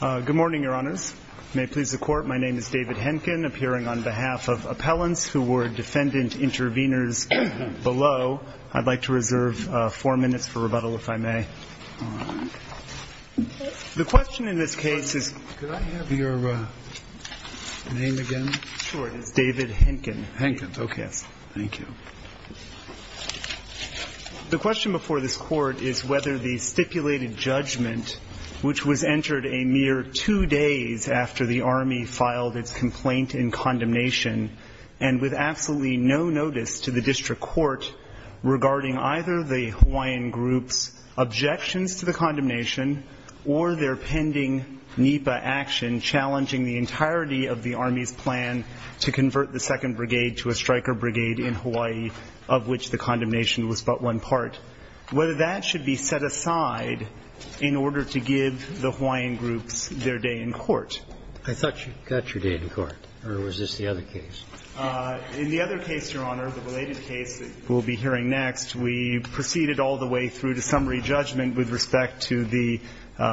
Good morning, Your Honors. May it please the Court, my name is David Henkin, appearing on behalf of appellants who were defendant intervenors below. I'd like to reserve four minutes for rebuttal, if I may. The question in this case is, could I have your name again? Sure, it's David Henkin. Henkin, okay. Thank you. The question before this Court is whether the stipulated judgment, which was entered a mere two days after the Army filed its complaint in condemnation, and with absolutely no notice to the District Court regarding either the Hawaiian group's objections to the condemnation or their pending NEPA action challenging the entirety of the Army's plan to convert the 2nd Brigade to a striker brigade in Hawaii, of which the condemnation was but one part, whether that should be set aside in order to give the Hawaiian groups their day in court. I thought you got your day in court, or was this the other case? In the other case, Your Honor, the related case that we'll be hearing next, we proceeded all the way through to summary judgment with respect to the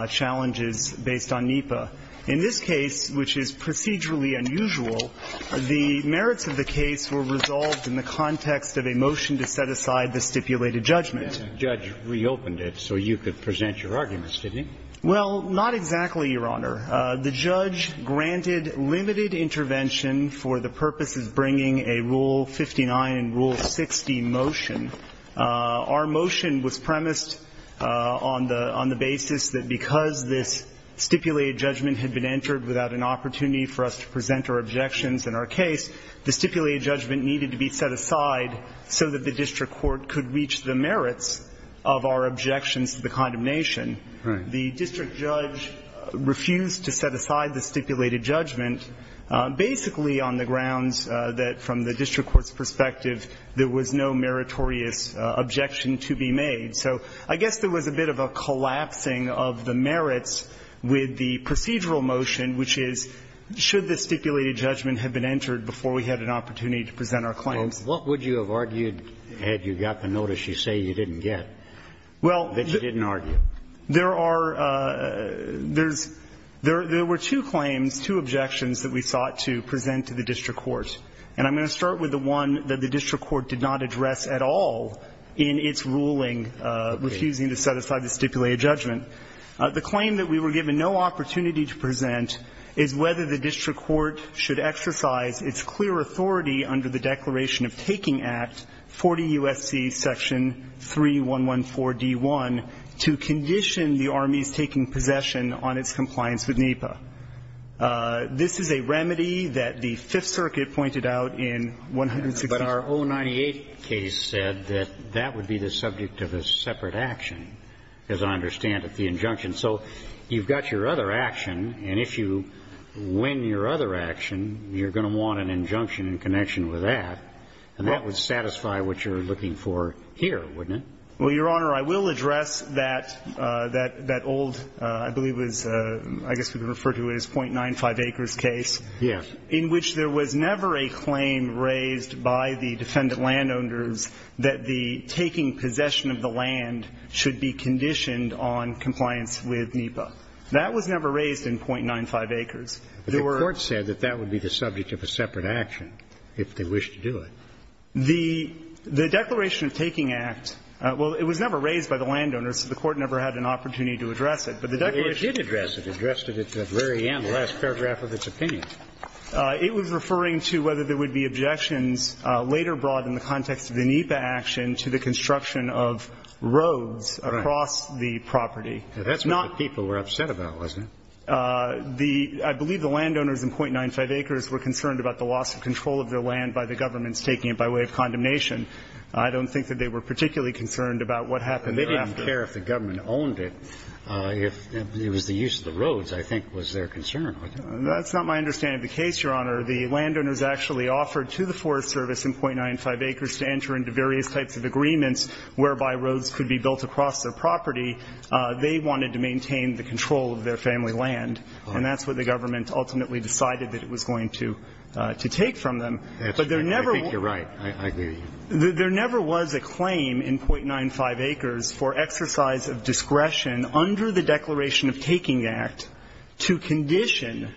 challenges based on NEPA. In this case, which is procedurally unusual, the merits of the case were resolved in the context of a motion to set aside the stipulated judgment. The judge reopened it so you could present your arguments, didn't he? Well, not exactly, Your Honor. The judge granted limited intervention for the purposes bringing a Rule 59 and Rule 60 motion. Our motion was premised on the basis that because this stipulated judgment had been entered without an opportunity for us to present our objections in our case, the stipulated judgment needed to be set aside so that the district court could reach the merits of our objections to the condemnation. The district judge refused to set aside the stipulated judgment, basically on the grounds that from the district court's perspective, there was no meritorious objection to be made. So I guess there was a bit of a collapsing of the merits with the procedural motion, which is, should the stipulated judgment have been entered before we had an opportunity to present our claims? Well, what would you have argued had you got the notice you say you didn't get that you didn't argue? Well, there are – there's – there were two claims, two objections that we sought to present to the district court. And I'm going to start with the one that the district court did not address at all in its ruling refusing to set aside the stipulated judgment. The claim that we were given no opportunity to present is whether the district court should exercise its clear authority under the Declaration of Taking Act 40 U.S.C. section 3114d.1 to condition the Army's taking possession on its compliance with NEPA. This is a remedy that the Fifth Circuit pointed out in 160 – But our 098 case said that that would be the subject of a separate action, as I understand it, the injunction. So you've got your other action, and if you win your other action, you're going to want an injunction in connection with that. And that would satisfy what you're looking for here, wouldn't it? Well, Your Honor, I will address that – that old – I believe it was – I guess we would refer to it as 0.95 acres case. Yes. In which there was never a claim raised by the defendant landowners that the taking possession of the land should be conditioned on compliance with NEPA. That was never raised in 0.95 acres. The court said that that would be the subject of a separate action, if they wished to do it. The Declaration of Taking Act – well, it was never raised by the landowners, so the court never had an opportunity to address it. But the Declaration – Well, it did address it. It addressed it at the very end, the last paragraph of its opinion. It was referring to whether there would be objections later brought in the context of the NEPA action to the construction of roads across the property. That's what the people were upset about, wasn't it? The – I believe the landowners in 0.95 acres were concerned about the loss of control of their land by the governments taking it by way of condemnation. I don't think that they were particularly concerned about what happened after. They didn't care if the government owned it. If it was the use of the roads, I think, was their concern. That's not my understanding of the case, Your Honor. The landowners actually offered to the Forest Service in 0.95 acres to enter into various types of agreements whereby roads could be built across their property. They wanted to maintain the control of their family land, and that's what the government ultimately decided that it was going to take from them. That's true. I think you're right. I agree with you. There never was a claim in 0.95 acres for exercise of discretion under the Declaration of Taking Act to condition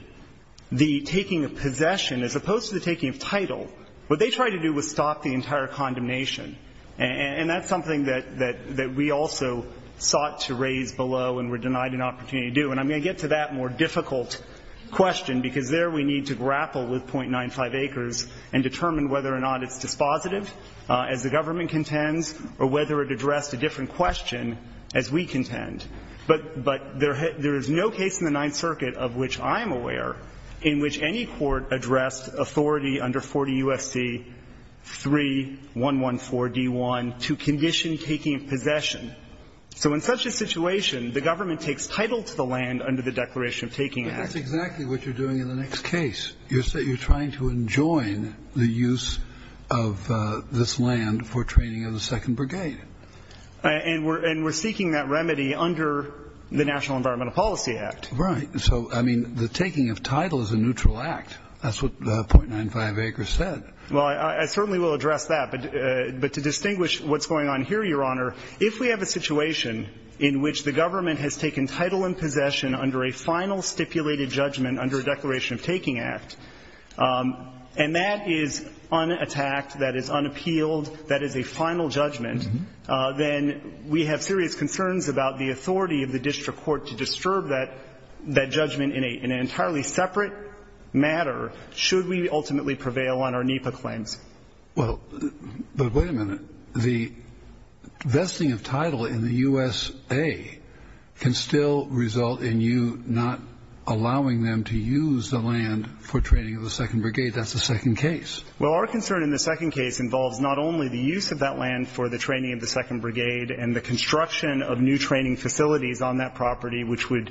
the taking of possession, as opposed to the taking of title. What they tried to do was stop the entire condemnation. And that's something that we also sought to raise below and were denied an opportunity to do. And I'm going to get to that more difficult question, because there we need to grapple with 0.95 acres and determine whether or not it's dispositive, as the government contends, or whether it addressed a different question, as we contend. But there is no case in the Ninth Circuit of which I'm aware in which any court addressed authority under 40 U.S.C. 3114d1 to condition taking of possession. So in such a situation, the government takes title to the land under the Declaration of Taking Act. But that's exactly what you're doing in the next case. You're trying to enjoin the use of this land for training of the Second Brigade. And we're seeking that remedy under the National Environmental Policy Act. Right. So, I mean, the taking of title is a neutral act. That's what 0.95 acres said. Well, I certainly will address that. But to distinguish what's going on here, Your Honor, if we have a situation in which the government has taken title and possession under a final stipulated judgment under a Declaration of Taking Act, and that is un-attacked, that is unappealed, that is a final judgment, then we have serious concerns about the authority of the district court to disturb that judgment in an entirely separate matter should we ultimately prevail on our NEPA claims. Well, but wait a minute. The vesting of title in the U.S.A. can still result in you not allowing them to use the land for training of the Second Brigade. That's the second case. Well, our concern in the second case involves not only the use of that land for the training of the Second Brigade and the construction of new training facilities on that property, which would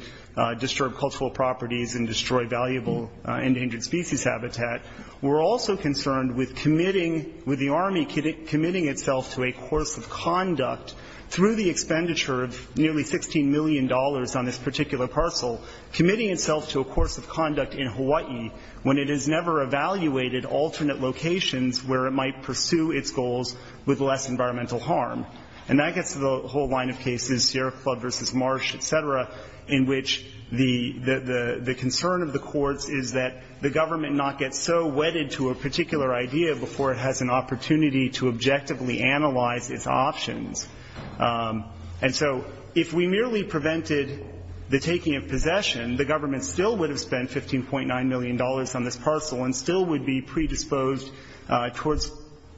disturb cultural properties and destroy valuable endangered species habitat. We're also concerned with committing, with the Army committing itself to a course of conduct through the expenditure of nearly $16 million on this particular parcel, committing itself to a course of conduct in Hawaii when it has never evaluated alternate locations where it might pursue its goals with less environmental harm. And that gets to the whole line of cases, Sierra Club versus Marsh, et cetera, in which the concern of the courts is that the government not get so wedded to a particular idea before it has an opportunity to objectively analyze its options. And so if we merely prevented the taking of possession, the government still would have spent $15.9 million on this parcel and still would be predisposed towards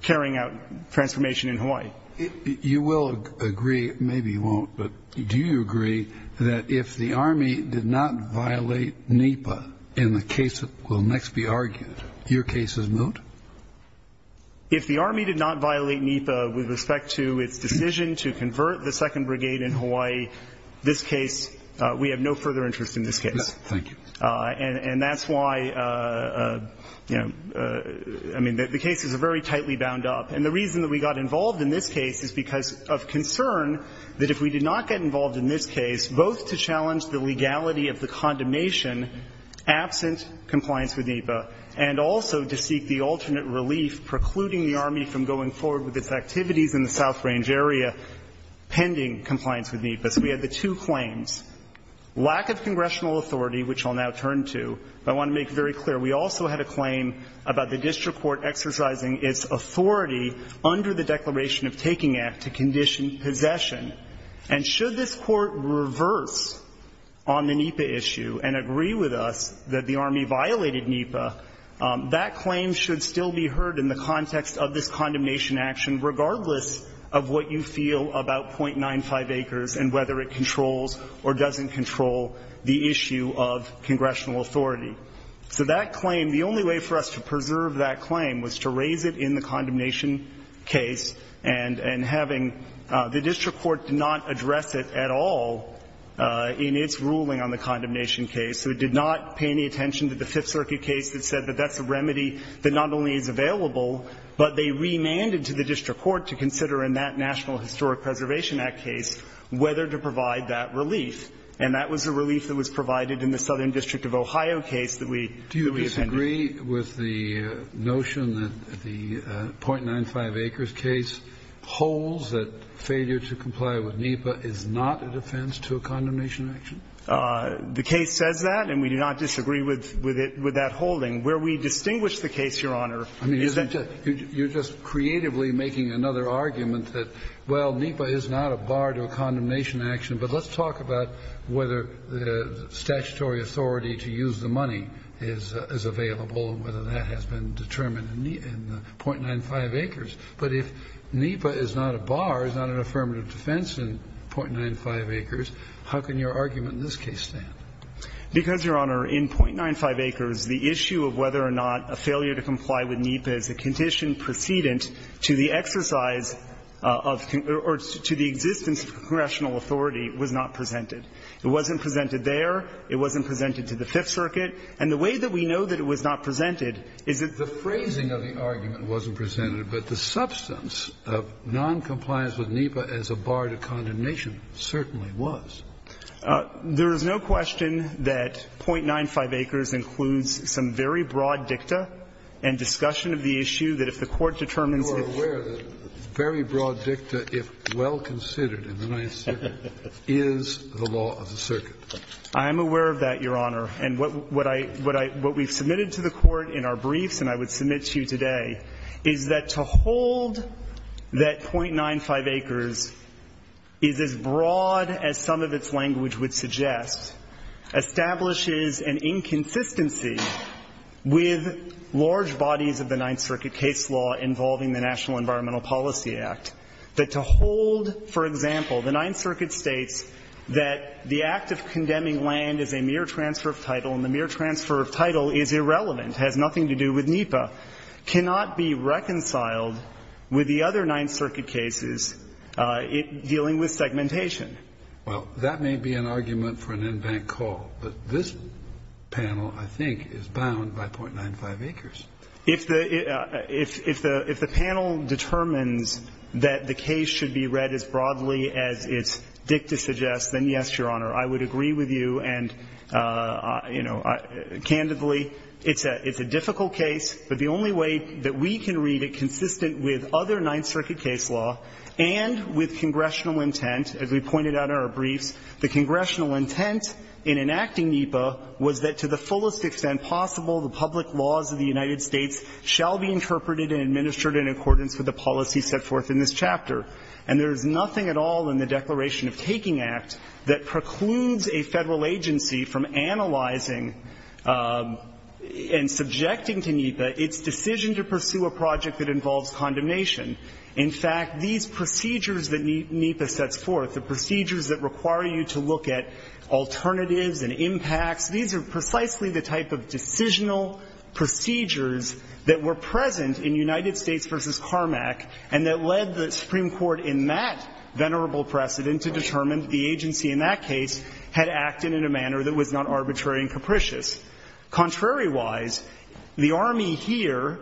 carrying out transformation in Hawaii. You will agree, maybe you won't, but do you agree that if the Army did not violate NEPA in the case that will next be argued, your case is moot? If the Army did not violate NEPA with respect to its decision to convert the 2nd Brigade in Hawaii, this case, we have no further interest in this case. And that's why, you know, I mean, the cases are very tightly bound up. And the reason that we got involved in this case is because of concern that if we did not get involved in this case, both to challenge the legality of the condemnation absent compliance with NEPA, and also to seek the alternate relief precluding the Army from going forward with its activities in the South Range area pending compliance with NEPA. So we had the two claims, lack of congressional authority, which I'll now turn to, but I want to make very clear, we also had a claim about the district court exercising its authority under the Declaration of Taking Act to condition possession. And should this court reverse on the NEPA issue and agree with us that the Army violated NEPA, that claim should still be heard in the context of this condemnation action, regardless of what you feel about .95 acres and whether it controls or doesn't control the issue of congressional authority. So that claim, the only way for us to preserve that claim was to raise it in the condemnation case and having the district court not address it at all in its ruling on the condemnation case. So it did not pay any attention to the Fifth Circuit case that said that that's a remedy that not only is available, but they remanded to the district court to consider in that National Historic Preservation Act case whether to provide that relief. And that was the relief that was provided in the Southern District of Ohio case that we appended. Do you disagree with the notion that the .95 acres case holds that failure to comply with NEPA is not a defense to a condemnation action? The case says that, and we do not disagree with that holding. Where we distinguish the case, Your Honor, is that the case holds that NEPA is not a bar to a condemnation action. But let's talk about whether statutory authority to use the money is available and whether that has been determined in the .95 acres. But if NEPA is not a bar, is not an affirmative defense in .95 acres, how can your argument in this case stand? Because, Your Honor, in .95 acres, the issue of whether or not a failure to comply with NEPA is a condition precedent to the exercise of or to the existence of congressional authority was not presented. It wasn't presented there. It wasn't presented to the Fifth Circuit. And the way that we know that it was not presented is that the phrasing of the argument wasn't presented, but the substance of noncompliance with NEPA as a bar to condemnation certainly was. There is no question that .95 acres includes some very broad dicta and discussion of the issue that if the Court determines that you are aware that very broad dicta, if well considered in the Ninth Circuit, is the law of the circuit. I am aware of that, Your Honor. And what I, what I, what we've submitted to the Court in our briefs, and I would submit to you today, is that to hold that .95 acres is as broad as some of its language would suggest, establishes an inconsistency with large bodies of the Ninth Circuit case law involving the National Environmental Policy Act. That to hold, for example, the Ninth Circuit states that the act of condemning land is a mere transfer of title, and the mere transfer of title is irrelevant, has nothing to do with NEPA, cannot be reconciled with the other Ninth Circuit cases dealing with segmentation. Well, that may be an argument for an in-bank call, but this panel, I think, is bound by .95 acres. If the, if the panel determines that the case should be read as broadly as its dicta suggests, then, yes, Your Honor, I would agree with you, and, you know, candidly, it's a difficult case. But the only way that we can read it consistent with other Ninth Circuit case law and with congressional intent, as we pointed out in our briefs, the congressional intent in enacting NEPA was that to the fullest extent possible, the public laws of the United States shall be interpreted and administered in accordance with the policy set forth in this chapter. And there is nothing at all in the Declaration of Taking Act that precludes a Federal agency from analyzing and subjecting to NEPA its decision to pursue a project that involves condemnation. In fact, these procedures that NEPA sets forth, the procedures that require you to look at alternatives and impacts, these are precisely the type of decisional procedures that were present in United States v. Carmack and that led the Supreme Court in that venerable precedent to determine the agency in that case had acted in a manner that was not arbitrary and capricious. Contrary-wise, the Army here,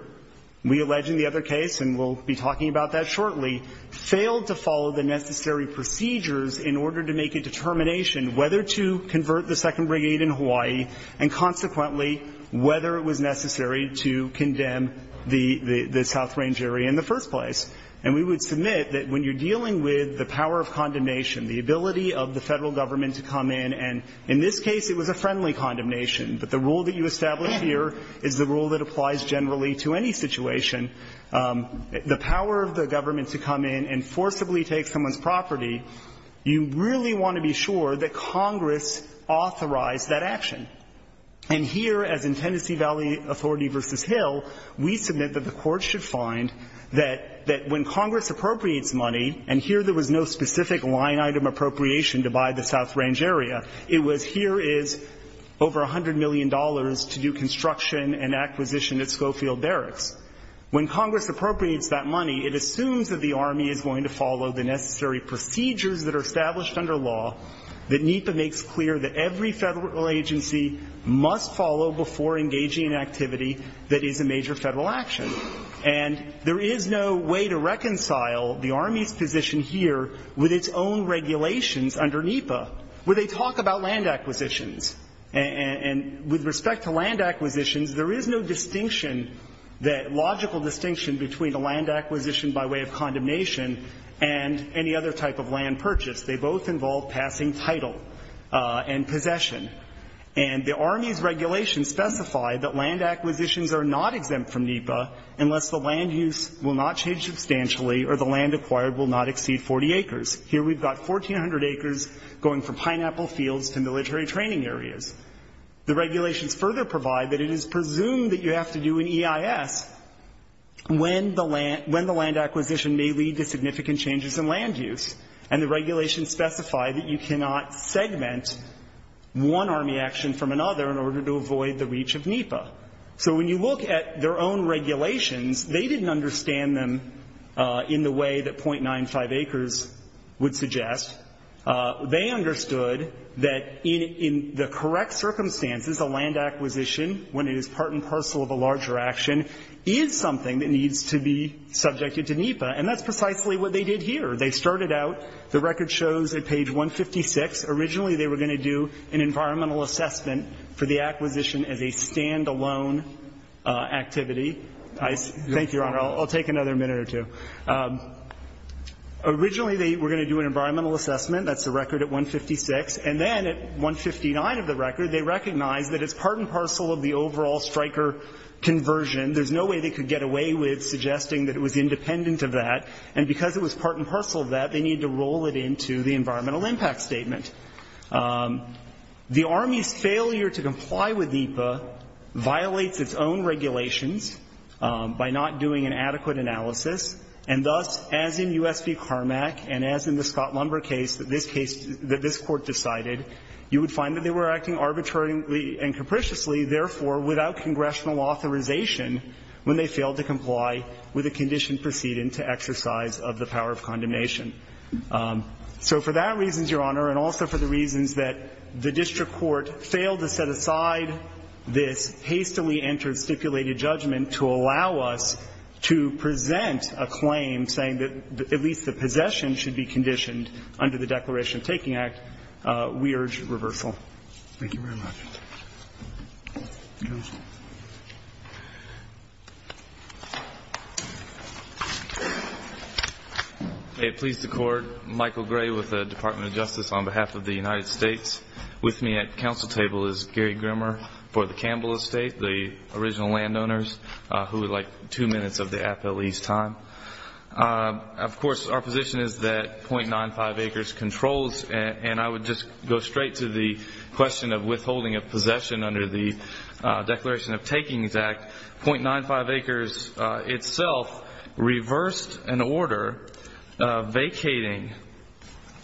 we allege in the other case, and we'll be talking about that shortly, failed to follow the necessary procedures in order to make a determination whether to convert the 2nd Brigade in Hawaii and, consequently, whether it was necessary to condemn the South Range area in the first place. And we would submit that when you're dealing with the power of condemnation, the ability of the Federal Government to come in, and in this case it was a friendly condemnation, but the rule that you establish here is the rule that applies generally to any situation, the power of the government to come in and forcibly take someone's property, you really want to be sure that Congress authorized that action. And here, as in Tennessee Valley Authority v. Hill, we submit that the Court should find that when Congress appropriates money, and here there was no specific line-item appropriation to buy the South Range area, it was here is over $100 million to do construction and acquisition at Schofield Barracks. When Congress appropriates that money, it assumes that the Army is going to follow the necessary procedures that are established under law, that NEPA makes clear that every Federal agency must follow before engaging in activity that is a major Federal action. And there is no way to reconcile the Army's position here with its own regulations under NEPA, where they talk about land acquisitions. And with respect to land acquisitions, there is no distinction that logical distinction between a land acquisition by way of condemnation and any other type of land purchase. They both involve passing title and possession. And the Army's regulations specify that land acquisitions are not exempt from NEPA unless the land use will not change substantially or the land acquired will not exceed 40 acres. Here we've got 1,400 acres going from pineapple fields to military training areas. The regulations further provide that it is presumed that you have to do an EIS when the land acquisition may lead to significant changes in land use. And the regulations specify that you cannot segment one Army action from another in order to avoid the reach of NEPA. So when you look at their own regulations, they didn't understand them in the way that 0.95 acres would suggest. They understood that in the correct circumstances, a land acquisition, when it is part and parcel of a larger action, is something that needs to be subjected to NEPA, and that's precisely what they did here. They started out, the record shows at page 156, originally they were going to do an environmental assessment for the acquisition as a stand-alone activity. Thank you, Your Honor, I'll take another minute or two. Originally, they were going to do an environmental assessment, that's the record at 156, and then at 159 of the record, they recognized that it's part and parcel of the overall striker conversion. There's no way they could get away with suggesting that it was independent of that. And because it was part and parcel of that, they needed to roll it into the environmental impact statement. The Army's failure to comply with NEPA violates its own regulations by not doing an adequate analysis, and thus, as in U.S. v. Carmack and as in the Scott Lumber case that this case, that this Court decided, you would find that they were acting arbitrarily and capriciously, therefore, without congressional authorization when they failed to comply with a condition proceeding to exercise of the power of condemnation. So for that reason, Your Honor, and also for the reasons that the district court failed to set aside this hastily entered stipulated judgment to allow us to present a claim saying that at least the possession should be conditioned under the Declaration of Taking Act, we urge reversal. Thank you very much. May it please the Court, Michael Gray with the Department of Justice on behalf of the United States. With me at the council table is Gary Grimmer for the Campbell Estate, the original landowners, who would like two minutes of the appellee's time. Of course, our position is that .95 acres controls, and I would just go straight to the question of withholding of possession under the Declaration of Taking Act, .95 acres itself reversed an order vacating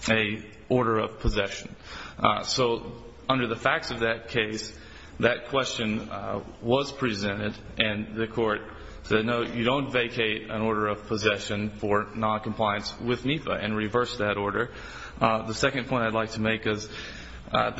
an order of possession. So under the facts of that case, that question was presented and the Court said, no, you don't vacate an order of possession for noncompliance with NIFA and reversed that order. The second point I'd like to make is that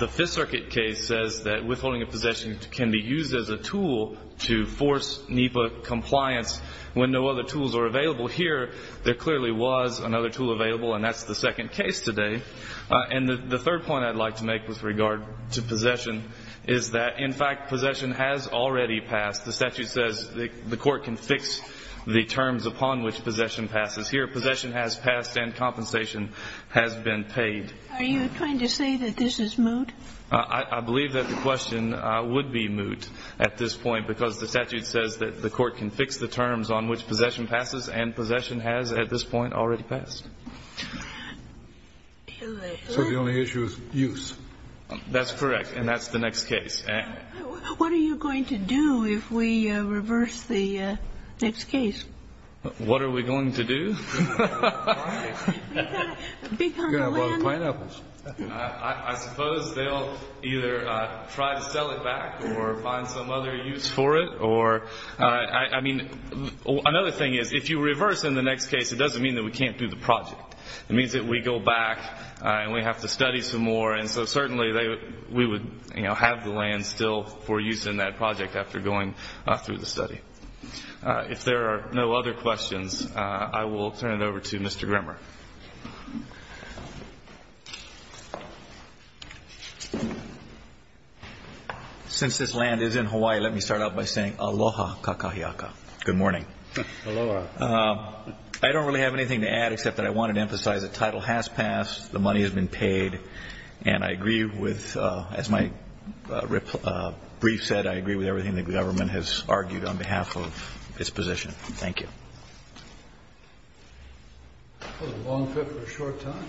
the Fifth Circuit case says that withholding of possession can be used as a tool to force NIFA compliance when no other tools are available. Here, there clearly was another tool available, and that's the second case today. And the third point I'd like to make with regard to possession is that, in fact, possession has already passed. The statute says the Court can fix the terms upon which possession passes. Here, possession has passed and compensation has been paid. Are you trying to say that this is moot? I believe that the question would be moot at this point, because the statute says that the Court can fix the terms on which possession passes, and possession has at this point already passed. So the only issue is use. That's correct, and that's the next case. What are you going to do if we reverse the next case? What are we going to do? I suppose they'll either try to sell it back or find some other use for it. I mean, another thing is, if you reverse in the next case, it doesn't mean that we can't do the project. It means that we go back and we have to study some more, and so certainly we would have the land still for use in that project after going through the study. If there are no other questions, I will turn it over to Mr. Grimmer. Since this land is in Hawaii, let me start out by saying aloha kakahiaka. Good morning. Aloha. I don't really have anything to add except that I wanted to emphasize the title has passed, the money has been paid, and I agree with, as my brief said, I agree with everything the government has argued on behalf of its position. Thank you. That was a long trip for a short time.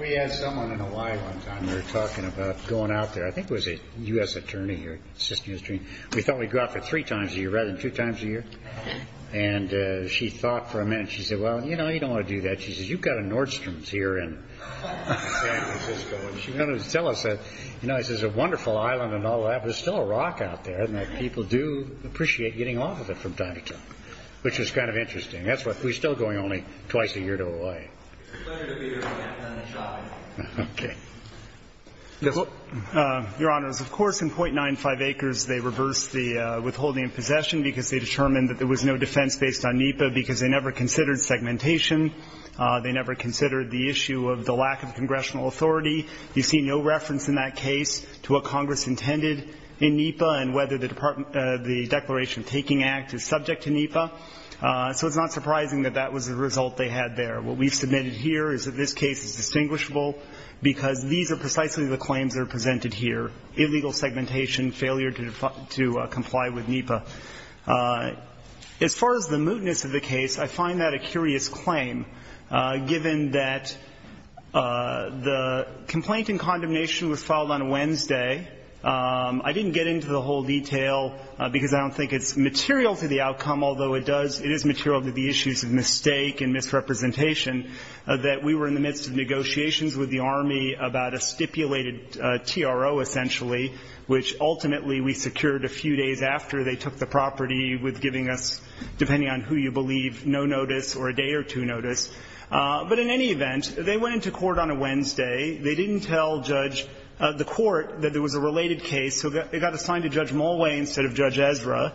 We had someone in Hawaii one time, we were talking about going out there. I think it was a U.S. attorney here, we thought we'd go out there three times a year rather than two times a year, and she thought for a minute, she said, well, you know, you don't want to do that. She said, you've got a Nordstrom's here in San Francisco, and she wanted to tell us that, you know, this is a wonderful island and all that, but there's still a rock out there and that people do appreciate getting off of it from time to time, which is kind of interesting. That's why we're still going only twice a year to Hawaii. It's a pleasure to be here, and I'm glad to have done this job. Okay. Your honors, of course, in .95 acres, they reversed the withholding of possession because they determined that there was no defense based on NEPA because they never considered segmentation, they never considered the issue of the lack of congressional authority. You see no reference in that case to what Congress intended in NEPA and whether the Declaration of Taking Act is subject to NEPA, so it's not surprising that that was the result they had there. What we've submitted here is that this case is distinguishable because these are precisely the claims that are presented here, illegal segmentation, failure to comply with NEPA. As far as the mootness of the case, I find that a curious claim, given that the complaint in condemnation was filed on a Wednesday. I didn't get into the whole detail because I don't think it's material to the outcome, although it does – it is material to the issues of mistake and misrepresentation that we were in the midst of negotiations with the Army about a stipulated TRO, essentially, which ultimately we secured a few days after they took the property with giving us, depending on who you believe, no notice or a day or two notice. But in any event, they went into court on a Wednesday. They didn't tell the court that there was a related case, so they got assigned to Judge Mulway instead of Judge Ezra.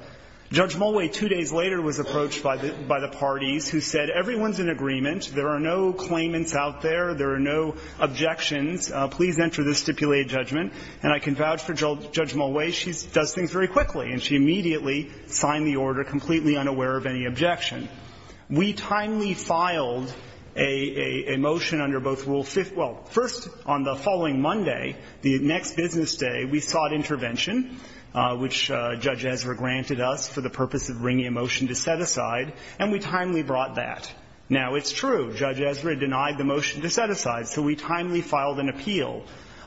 Judge Mulway, two days later, was approached by the parties, who said, everyone's in agreement, there are no claimants out there, there are no objections, please enter the stipulated judgment, and I can vouch for Judge Mulway. She does things very quickly, and she immediately signed the order completely unaware of any objection. We timely filed a motion under both Rule Fifth – well, first, on the following Monday, the next business day, we sought intervention, which Judge Ezra granted us for the purpose of bringing a motion to set aside, and we timely brought that. Now, it's true, Judge Ezra denied the motion to set aside, so we timely filed an appeal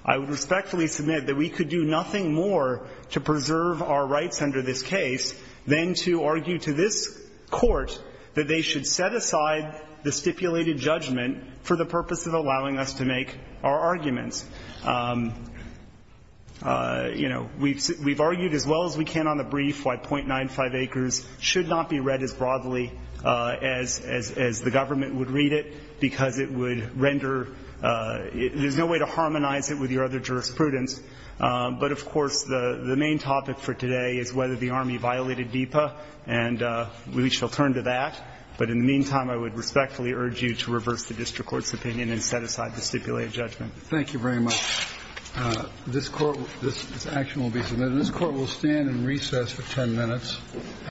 I would respectfully submit that we could do nothing more to preserve our rights under this case than to argue to this Court that they should set aside the stipulated judgment for the purpose of allowing us to make our arguments. You know, we've argued as well as we can on the brief why .95 acres should not be read as broadly as the government would read it, because it would render – there's no way to harmonize it with your other jurisprudence. But of course, the main topic for today is whether the Army violated DEPA, and we shall turn to that, but in the meantime, I would respectfully urge you to reverse the District Court's opinion and set aside the stipulated judgment. Thank you very much. This action will be submitted. This Court will stand in recess for 10 minutes.